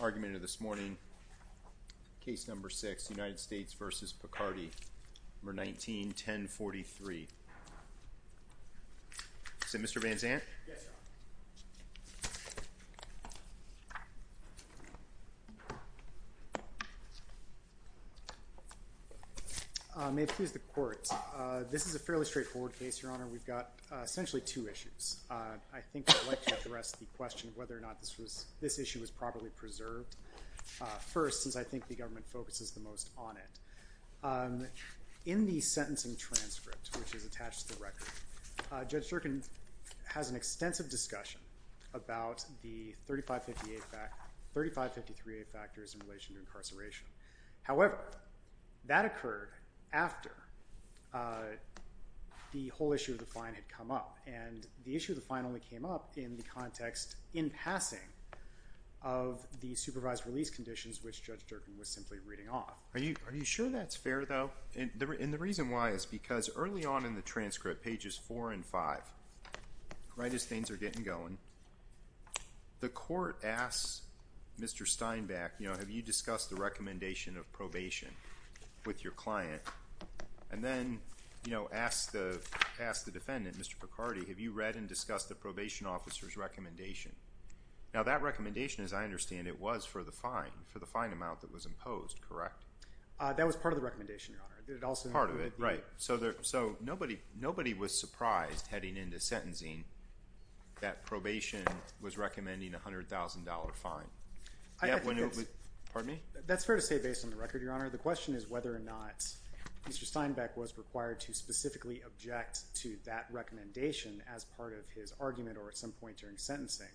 Argument of this morning, case number 6, United States v. Picardi, number 19-1043. Is it Mr. Van Zandt? Yes, Your Honor. May it please the Court. This is a fairly straightforward case, Your Honor. We've got essentially two issues. I think I'd like to address the question of whether or not this issue was properly preserved first, since I think the government focuses the most on it. In the sentencing transcript, which is attached to the record, Judge Durkin has an extensive discussion about the 3553A factors in relation to incarceration. However, that occurred after the whole issue of the fine had come up. And the issue of the fine only came up in the context, in passing, of the supervised release conditions, which Judge Durkin was simply reading off. Are you sure that's fair, though? And the reason why is because early on in the transcript, pages 4 and 5, right as things are getting going, the Court asks Mr. Steinbeck, have you discussed the recommendation of probation with your client? And then asks the defendant, Mr. Picardi, have you read and discussed the probation officer's recommendation? Now, that recommendation, as I understand it, was for the fine, for the fine amount that was imposed, correct? That was part of the recommendation, Your Honor. Part of it, right. So nobody was surprised, heading into sentencing, that probation was recommending a $100,000 fine. Pardon me? That's fair to say, based on the record, Your Honor. The question is whether or not Mr. Steinbeck was required to specifically object to that recommendation as part of his argument or at some point during sentencing.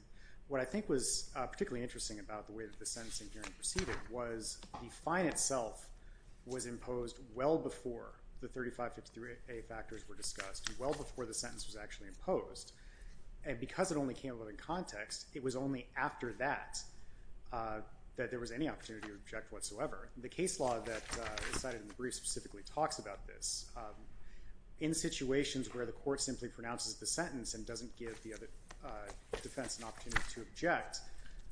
What I think was particularly interesting about the way that the sentencing hearing proceeded was the fine itself was imposed well before the 3553A factors were discussed, well before the sentence was actually imposed. And because it only came about in context, it was only after that that there was any opportunity to object whatsoever. The case law that is cited in the brief specifically talks about this. In situations where the Court simply pronounces the sentence and doesn't give the defense an opportunity to object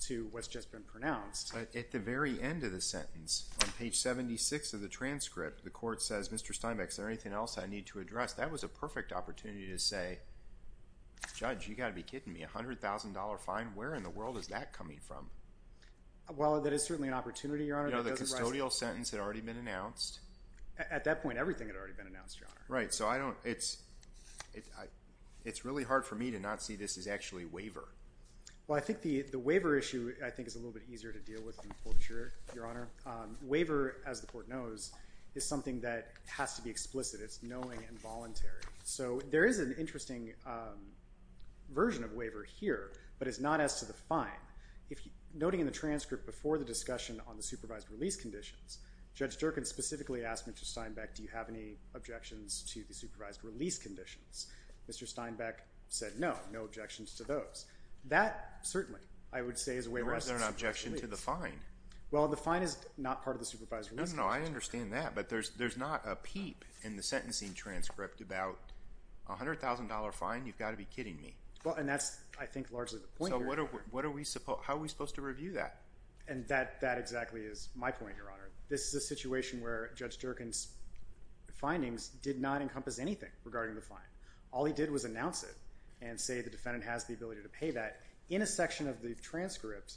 to what's just been pronounced. At the very end of the sentence, on page 76 of the transcript, the Court says, Mr. Steinbeck, is there anything else I need to address? That was a perfect opportunity to say, Judge, you've got to be kidding me. A $100,000 fine, where in the world is that coming from? Well, that is certainly an opportunity, Your Honor. You know, the custodial sentence had already been announced. At that point, everything had already been announced, Your Honor. Right, so I don't, it's, it's really hard for me to not see this as actually waiver. Well, I think the waiver issue, I think, is a little bit easier to deal with than torture, Your Honor. Waiver, as the Court knows, is something that has to be explicit. It's knowing and voluntary. So, there is an interesting version of waiver here, but it's not as to the fine. If, noting in the transcript before the discussion on the supervised release conditions, Judge Durkin specifically asked Mr. Steinbeck, do you have any objections to the supervised release conditions? Mr. Steinbeck said no, no objections to those. That, certainly, I would say is a waiver as to the supervised release. Well, is there an objection to the fine? Well, the fine is not part of the supervised release conditions. No, no, no, I understand that, but there's, there's not a peep in the sentencing transcript about a $100,000 fine. You've got to be kidding me. Well, and that's, I think, largely the point here. So, what are, what are we supposed, how are we supposed to review that? And that, that exactly is my point, Your Honor. This is a situation where Judge Durkin's findings did not encompass anything regarding the fine. All he did was announce it and say the defendant has the ability to pay that in a section of the transcript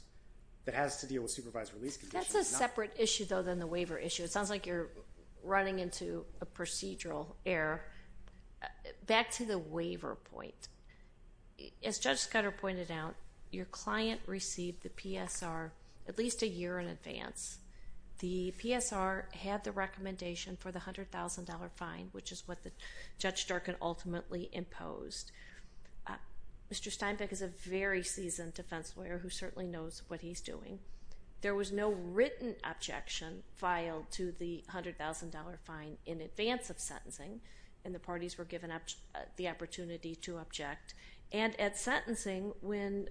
that has to deal with supervised release conditions. That's a separate issue, though, than the waiver issue. It sounds like you're running into a procedural error. Back to the waiver point. As Judge Scudder pointed out, your client received the PSR at least a year in advance. The PSR had the recommendation for the $100,000 fine, which is what Judge Durkin ultimately imposed. Mr. Steinbeck is a very seasoned defense lawyer who certainly knows what he's doing. There was no written objection filed to the $100,000 fine in advance of sentencing, and the parties were given the opportunity to object. And at sentencing, when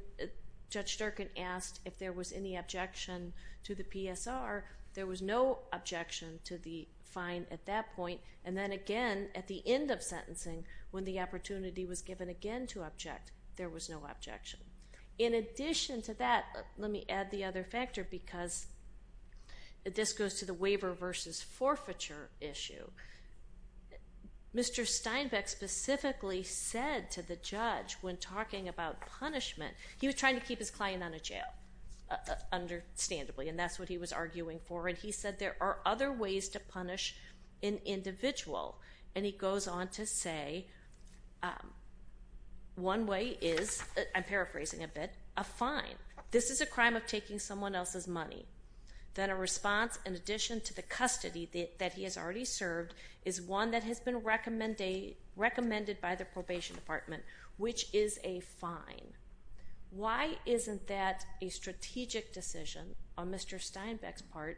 Judge Durkin asked if there was any objection to the PSR, there was no objection to the fine at that point. And then again, at the end of sentencing, when the opportunity was given again to object, there was no objection. In addition to that, let me add the other factor because this goes to the waiver versus forfeiture issue. Mr. Steinbeck specifically said to the judge when talking about punishment, he was trying to keep his client out of jail, understandably, and that's what he was arguing for. And he said there are other ways to punish an individual. And he goes on to say one way is, I'm paraphrasing a bit, a fine. This is a crime of taking someone else's money. Then a response in addition to the custody that he has already served is one that has been recommended by the probation department, which is a fine. Why isn't that a strategic decision on Mr. Steinbeck's part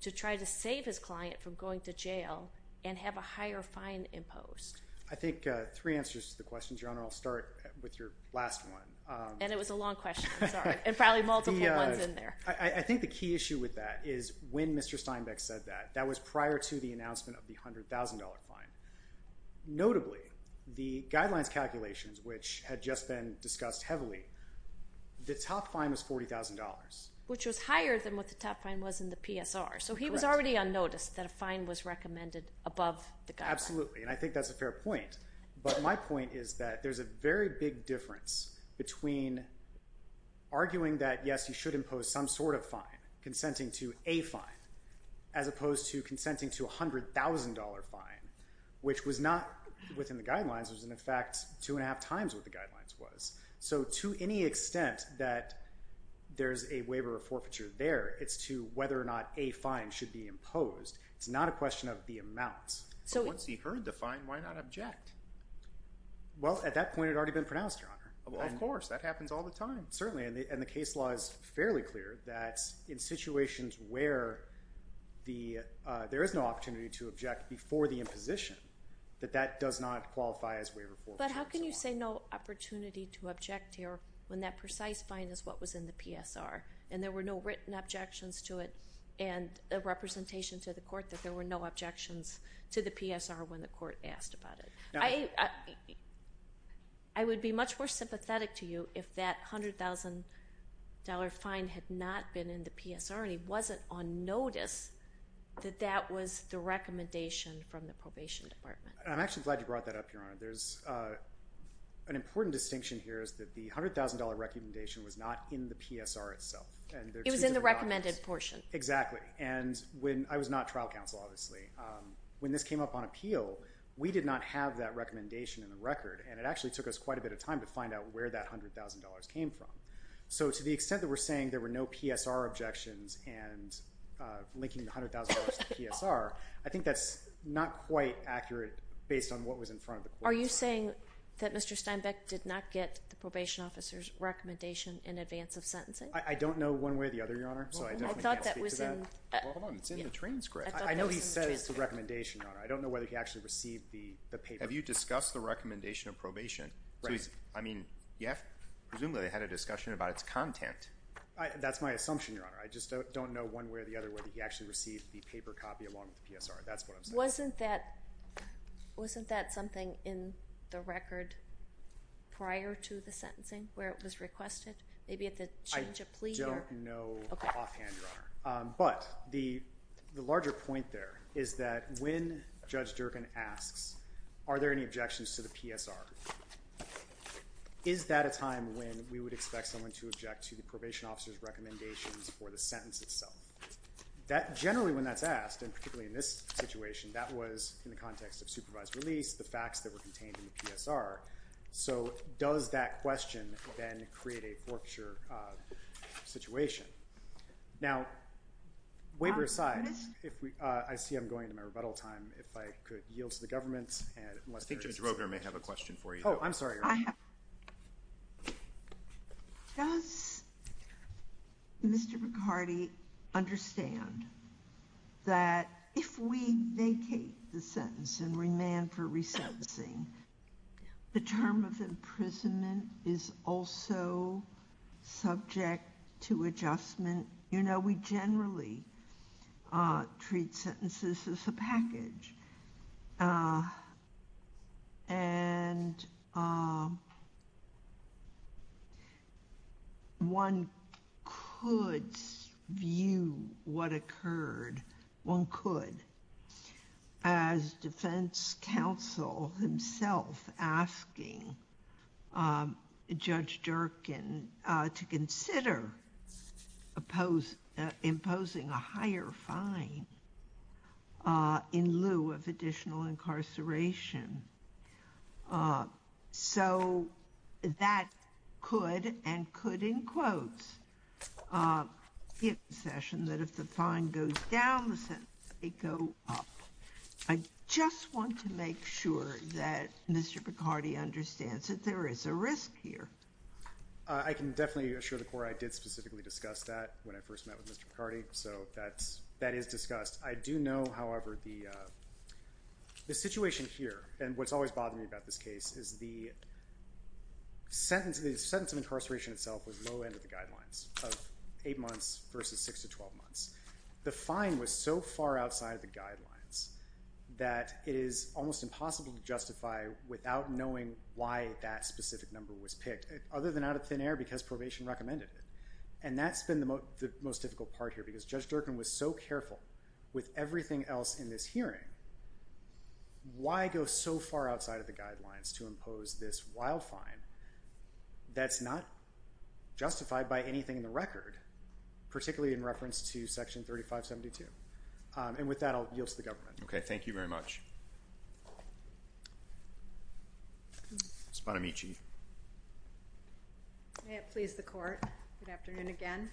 to try to save his client from going to jail and have a higher fine imposed? I think three answers to the question, Your Honor. I'll start with your last one. And it was a long question. I'm sorry. And probably multiple ones in there. I think the key issue with that is when Mr. Steinbeck said that, that was prior to the announcement of the $100,000 fine. Notably, the guidelines calculations, which had just been discussed heavily, the top fine was $40,000. Which was higher than what the top fine was in the PSR. Correct. So he was already on notice that a fine was recommended above the guideline. Absolutely. And I think that's a fair point. But my point is that there's a very big difference between arguing that, yes, you should impose some sort of fine, consenting to a fine, as opposed to consenting to a $100,000 fine, which was not within the guidelines. It was, in fact, two and a half times what the guidelines was. So to any extent that there's a waiver of forfeiture there, it's to whether or not a fine should be imposed. It's not a question of the amount. But once he heard the fine, why not object? Well, at that point, it had already been pronounced, Your Honor. Well, of course. That happens all the time. Certainly. And the case law is fairly clear that in situations where there is no opportunity to object before the imposition, that that does not qualify as waiver of forfeiture. But how can you say no opportunity to object here when that precise fine is what was in the PSR? And there were no written objections to it and a representation to the court that there were no objections to the PSR when the court asked about it. I would be much more sympathetic to you if that $100,000 fine had not been in the PSR and he wasn't on notice that that was the recommendation from the probation department. I'm actually glad you brought that up, Your Honor. An important distinction here is that the $100,000 recommendation was not in the PSR itself. It was in the recommended portion. Exactly. And I was not trial counsel, obviously. When this came up on appeal, we did not have that recommendation in the record, and it actually took us quite a bit of time to find out where that $100,000 came from. So to the extent that we're saying there were no PSR objections and linking the $100,000 to the PSR, I think that's not quite accurate based on what was in front of the court. Are you saying that Mr. Steinbeck did not get the probation officer's recommendation in advance of sentencing? I don't know one way or the other, Your Honor, so I definitely can't speak to that. Well, hold on. It's in the transcript. I know he says the recommendation, Your Honor. I don't know whether he actually received the paper. Have you discussed the recommendation of probation? Right. I mean, presumably they had a discussion about its content. That's my assumption, Your Honor. I just don't know one way or the other whether he actually received the paper copy along with the PSR. That's what I'm saying. Wasn't that something in the record prior to the sentencing where it was requested? Maybe at the change of plea? I don't know offhand, Your Honor. But the larger point there is that when Judge Durkan asks, are there any objections to the PSR, is that a time when we would expect someone to object to the probation officer's recommendations for the sentence itself? Generally, when that's asked, and particularly in this situation, that was in the context of supervised release, the facts that were contained in the PSR. So does that question then create a forfeiture situation? Now, waiver aside, I see I'm going to my rebuttal time. If I could yield to the government. I think Judge Roker may have a question for you. Oh, I'm sorry, Your Honor. Does Mr. McCarty understand that if we vacate the sentence and remand for resentencing, the term of imprisonment is also subject to adjustment? You know, we generally treat sentences as a package. And one could view what occurred, one could, as defense counsel himself asking Judge Durkan to consider imposing a higher fine in lieu of additional incarceration. So that could and could, in quotes, give the session that if the fine goes down, the sentence may go up. I just want to make sure that Mr. McCarty understands that there is a risk here. I can definitely assure the Court I did specifically discuss that when I first met with Mr. McCarty. So that is discussed. I do know, however, the situation here, and what's always bothered me about this case, is the sentence of incarceration itself was low end of the guidelines of 8 months versus 6 to 12 months. The fine was so far outside of the guidelines that it is almost impossible to justify without knowing why that specific number was picked, other than out of thin air because probation recommended it. And that's been the most difficult part here because Judge Durkan was so careful with everything else in this hearing. Why go so far outside of the guidelines to impose this wild fine that's not justified by anything in the record, particularly in reference to Section 3572? And with that, I'll yield to the government. Okay, thank you very much. Sponamici. May it please the Court, good afternoon again.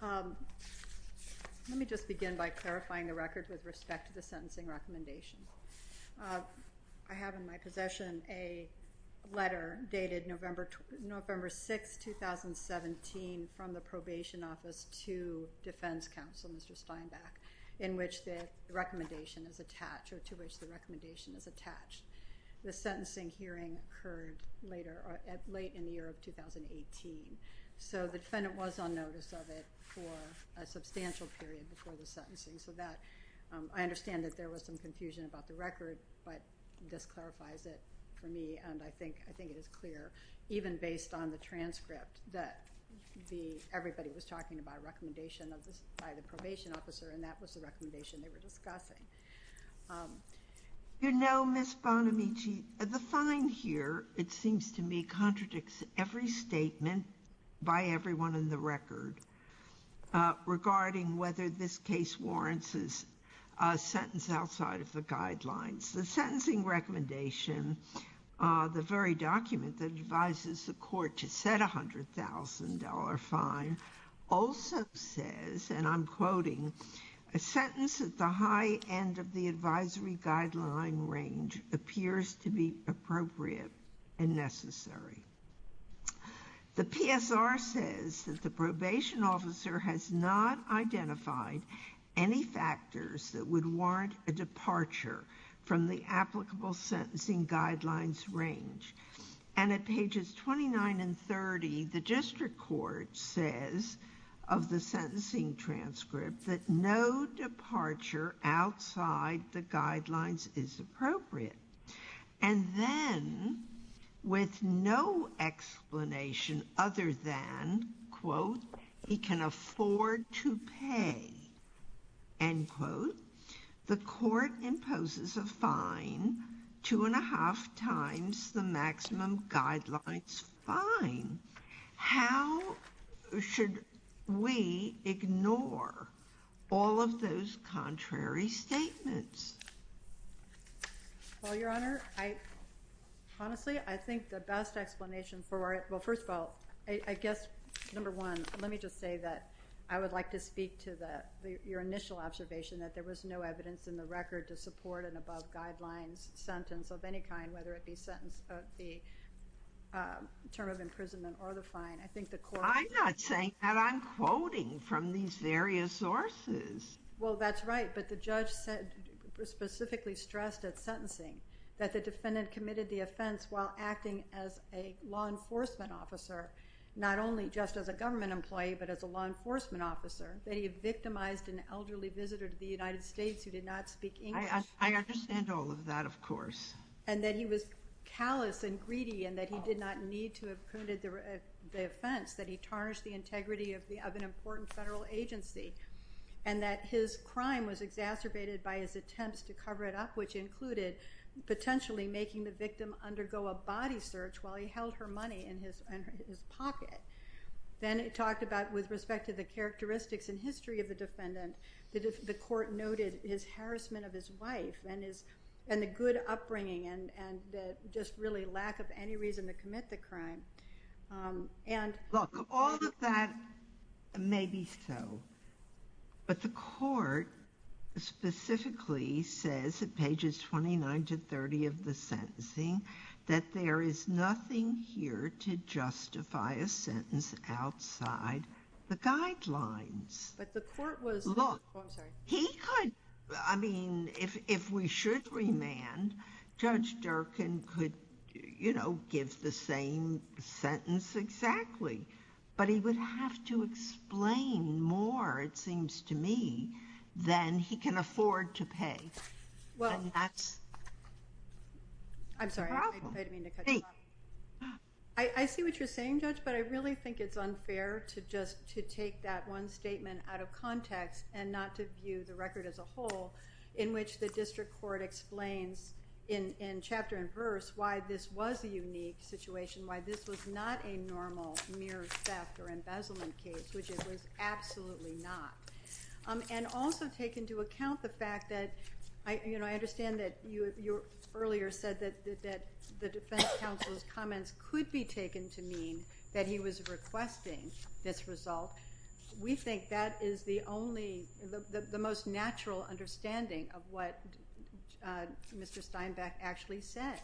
Let me just begin by clarifying the record with respect to the sentencing recommendation. I have in my possession a letter dated November 6, 2017, from the Probation Office to Defense Counsel, Mr. Steinbach, in which the recommendation is attached, or to which the recommendation is attached. The sentencing hearing occurred late in the year of 2018, so the defendant was on notice of it for a substantial period before the sentencing. I understand that there was some confusion about the record, but this clarifies it for me, and I think it is clear, even based on the transcript, that everybody was talking about a recommendation by the Probation Officer, and that was the recommendation they were discussing. You know, Ms. Sponamici, the fine here, it seems to me, contradicts every statement by everyone in the record regarding whether this case warrants a sentence outside of the guidelines. The sentencing recommendation, the very document that advises the Court to set a $100,000 fine, also says, and I'm quoting, a sentence at the high end of the advisory guideline range appears to be appropriate and necessary. The PSR says that the Probation Officer has not identified any factors that would warrant a departure from the applicable sentencing guidelines range, and at pages 29 and 30, the District Court says of the sentencing transcript that no departure outside the guidelines is appropriate, and then, with no explanation other than, quote, he can afford to pay, end quote, the Court imposes a fine two and a half times the maximum guidelines fine. How should we ignore all of those contrary statements? Well, Your Honor, honestly, I think the best explanation for it, well, first of all, I guess, number one, let me just say that I would like to speak to your initial observation that there was no evidence in the record to support an above-guidelines sentence of any kind, whether it be sentence of the term of imprisonment or the fine. I'm not saying that. I'm quoting from these various sources. Well, that's right, but the judge specifically stressed at sentencing that the defendant committed the offense while acting as a law enforcement officer, not only just as a government employee but as a law enforcement officer, that he victimized an elderly visitor to the United States who did not speak English. I understand all of that, of course. And that he was callous and greedy and that he did not need to have committed the offense, that he tarnished the integrity of an important federal agency, and that his crime was exacerbated by his attempts to cover it up, which included potentially making the victim undergo a body search while he held her money in his pocket. Then it talked about, with respect to the characteristics and history of the defendant, the court noted his harassment of his wife and the good upbringing and just really lack of any reason to commit the crime. Look, all of that may be so, but the court specifically says at pages 29 to 30 of the sentencing that there is nothing here to justify a sentence outside the guidelines. But the court was— Look, he could—I mean, if we should remand, Judge Durkan could, you know, give the same sentence exactly, but he would have to explain more, it seems to me, than he can afford to pay. And that's— I'm sorry, I didn't mean to cut you off. I see what you're saying, Judge, but I really think it's unfair to just take that one statement out of context and not to view the record as a whole in which the district court explains in chapter and verse why this was a unique situation, why this was not a normal mere theft or embezzlement case, which it was absolutely not. And also take into account the fact that, you know, I understand that you earlier said that the defense counsel's comments could be taken to mean that he was requesting this result. We think that is the only—the most natural understanding of what Mr. Steinbeck actually said.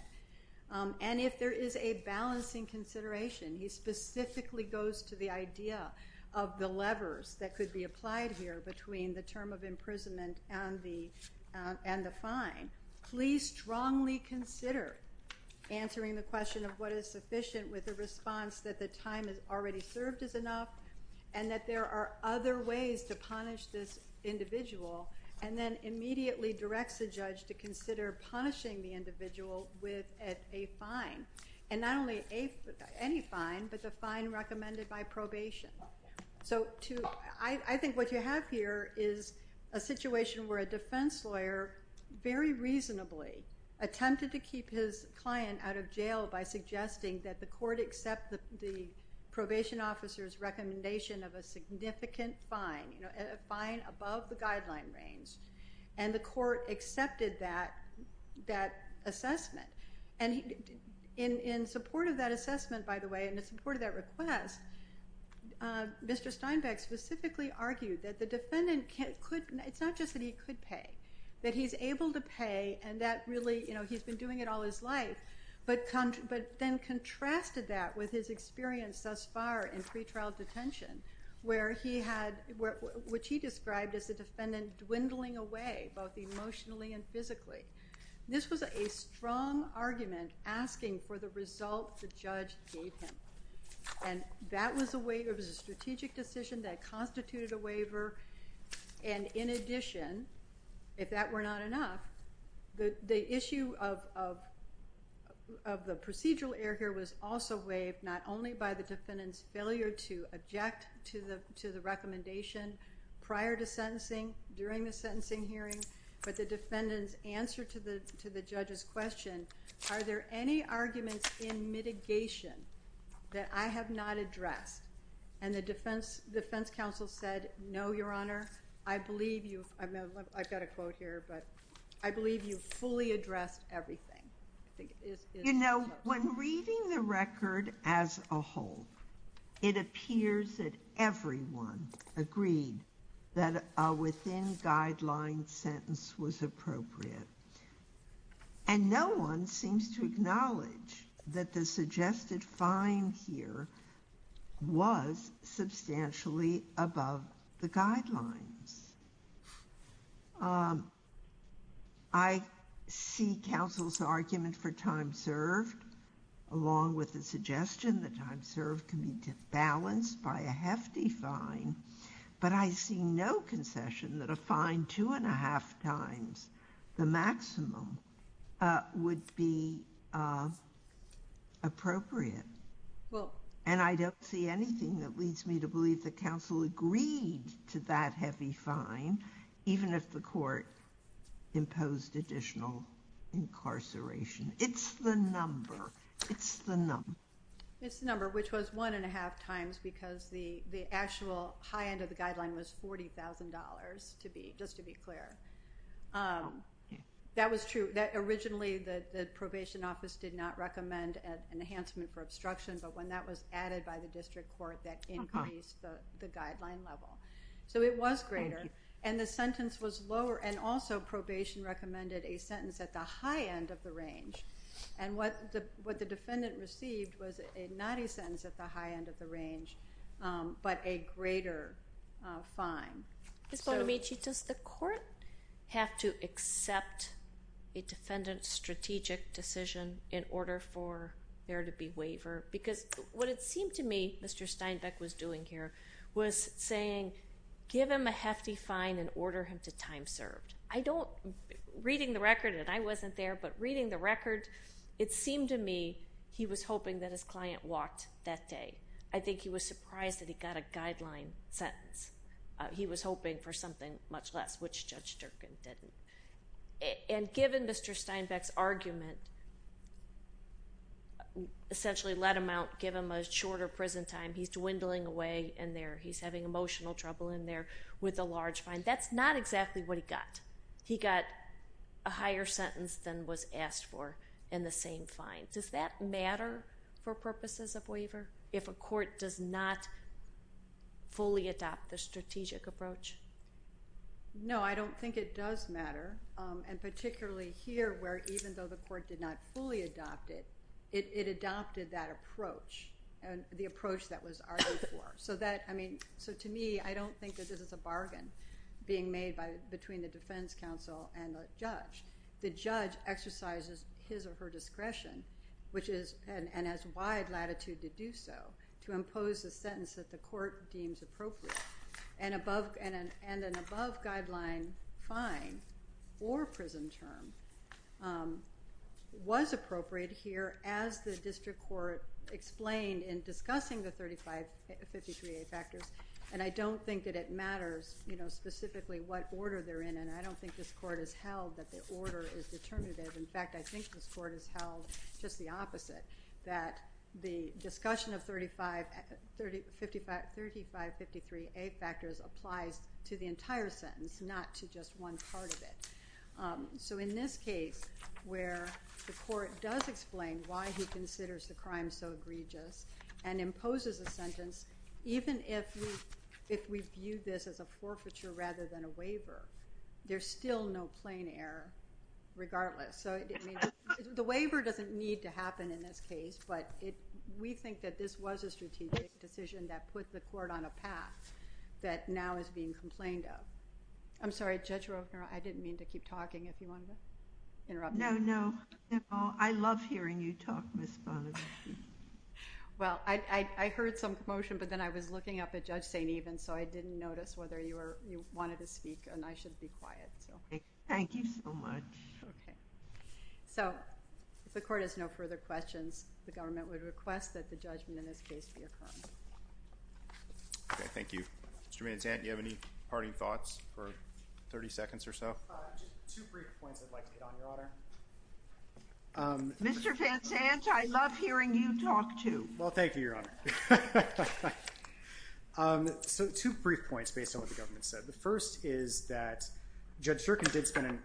And if there is a balancing consideration, he specifically goes to the idea of the levers that could be applied here between the term of imprisonment and the fine. Please strongly consider answering the question of what is sufficient with the response that the time is already served is enough and that there are other ways to punish this individual and then immediately directs the judge to consider punishing the individual with a fine. And not only any fine, but the fine recommended by probation. So I think what you have here is a situation where a defense lawyer very reasonably attempted to keep his client out of jail by suggesting that the court accept the probation officer's recommendation of a significant fine, you know, a fine above the guideline range, and the court accepted that assessment. And in support of that assessment, by the way, and in support of that request, Mr. Steinbeck specifically argued that the defendant could—it's not just that he could pay, that he's able to pay and that really, you know, he's been doing it all his life, but then contrasted that with his experience thus far in pretrial detention, where he had—which he described as the defendant dwindling away both emotionally and physically. This was a strong argument asking for the result the judge gave him. And that was a way—it was a strategic decision that constituted a waiver, and in addition, if that were not enough, the issue of the procedural error here was also waived not only by the defendant's failure to object to the recommendation prior to sentencing, during the sentencing hearing, but the defendant's answer to the judge's question, are there any arguments in mitigation that I have not addressed? And the defense counsel said, no, Your Honor, I believe you—I've got a quote here, but I believe you fully addressed everything. You know, when reading the record as a whole, it appears that everyone agreed that a within-guideline sentence was appropriate. And no one seems to acknowledge that the suggested fine here was substantially above the guidelines. I see counsel's argument for time served, along with the suggestion that time served can be balanced by a hefty fine, but I see no concession that a fine two and a half times the maximum would be appropriate. And I don't see anything that leads me to believe that counsel agreed to that heavy fine, even if the court imposed additional incarceration. It's the number. It's the number. It's the number, which was one and a half times, because the actual high end of the guideline was $40,000, just to be clear. That was true. Originally, the probation office did not recommend an enhancement for obstruction, but when that was added by the district court, that increased the guideline level. So it was greater, and the sentence was lower, and also probation recommended a sentence at the high end of the range. And what the defendant received was not a sentence at the high end of the range, but a greater fine. Ms. Bonamici, does the court have to accept a defendant's strategic decision in order for there to be waiver? Because what it seemed to me Mr. Steinbeck was doing here was saying, give him a hefty fine and order him to time served. I don't, reading the record, and I wasn't there, but reading the record, it seemed to me he was hoping that his client walked that day. I think he was surprised that he got a guideline sentence. He was hoping for something much less, which Judge Durkin didn't. And given Mr. Steinbeck's argument, essentially let him out, give him a shorter prison time. He's dwindling away in there. He's having emotional trouble in there with a large fine. That's not exactly what he got. He got a higher sentence than was asked for in the same fine. Does that matter for purposes of waiver? If a court does not fully adopt the strategic approach? No, I don't think it does matter. And particularly here where even though the court did not fully adopt it, it adopted that approach, the approach that was argued for. So to me, I don't think that this is a bargain being made between the defense counsel and the judge. The judge exercises his or her discretion, and has wide latitude to do so, to impose a sentence that the court deems appropriate. And an above-guideline fine or prison term was appropriate here, as the district court explained in discussing the 3553A factors. And I don't think that it matters specifically what order they're in. I don't think this court has held that the order is determinative. In fact, I think this court has held just the opposite, that the discussion of 3553A factors applies to the entire sentence, not to just one part of it. So in this case, where the court does explain why he considers the crime so egregious and imposes a sentence, even if we view this as a forfeiture rather than a waiver, there's still no plain error regardless. So the waiver doesn't need to happen in this case, but we think that this was a strategic decision that put the court on a path that now is being complained of. I'm sorry, Judge Rovner, I didn't mean to keep talking if you wanted to interrupt. No, no. I love hearing you talk, Ms. Bonner. Well, I heard some commotion, but then I was looking up at Judge St. Even, so I didn't notice whether you wanted to speak, and I should be quiet. Thank you so much. Okay. So if the court has no further questions, the government would request that the judgment in this case be affirmed. Okay, thank you. Mr. Manzant, do you have any parting thoughts for 30 seconds or so? Just two brief points I'd like to get on, Your Honor. Mr. Manzant, I love hearing you talk too. Well, thank you, Your Honor. So two brief points based on what the government said. The first is that Judge Zirkin did spend an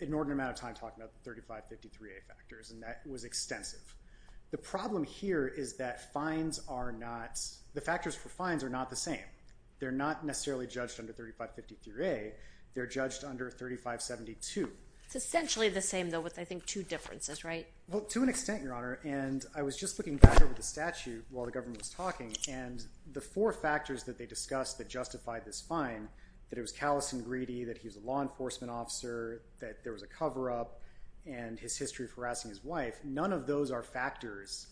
inordinate amount of time talking about the 3553A factors, and that was extensive. The problem here is that the factors for fines are not the same. They're not necessarily judged under 3553A. They're judged under 3572. It's essentially the same, though, with, I think, two differences, right? Well, to an extent, Your Honor, and I was just looking back over the statute while the government was talking, and the four factors that they discussed that justified this fine, that it was callous and greedy, that he was a law enforcement officer, that there was a cover-up, and his history of harassing his wife, none of those are factors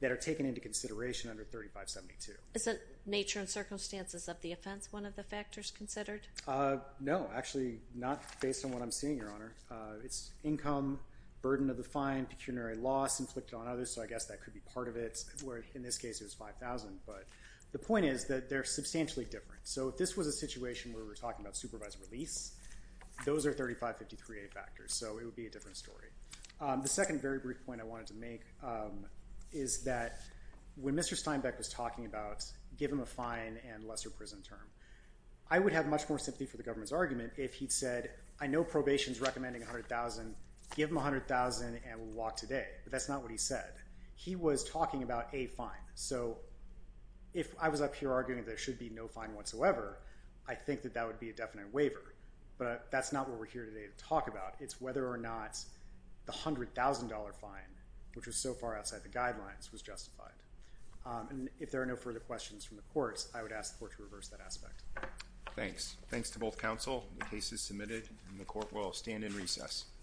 that are taken into consideration under 3572. Isn't nature and circumstances of the offense one of the factors considered? No. Actually, not based on what I'm seeing, Your Honor. It's income, burden of the fine, pecuniary loss inflicted on others, so I guess that could be part of it. In this case, it was $5,000. But the point is that they're substantially different. So if this was a situation where we're talking about supervised release, those are 3553A factors, so it would be a different story. The second very brief point I wanted to make is that when Mr. Steinbeck was talking about give him a fine and lesser prison term, I would have much more sympathy for the government's argument if he'd said, I know probation's recommending $100,000. Give him $100,000 and we'll walk today. But that's not what he said. He was talking about a fine. So if I was up here arguing there should be no fine whatsoever, I think that that would be a definite waiver. But that's not what we're here today to talk about. It's whether or not the $100,000 fine, which was so far outside the guidelines, was justified. And if there are no further questions from the courts, I would ask the court to reverse that aspect. Thanks. Thanks to both counsel. The case is submitted and the court will stand in recess.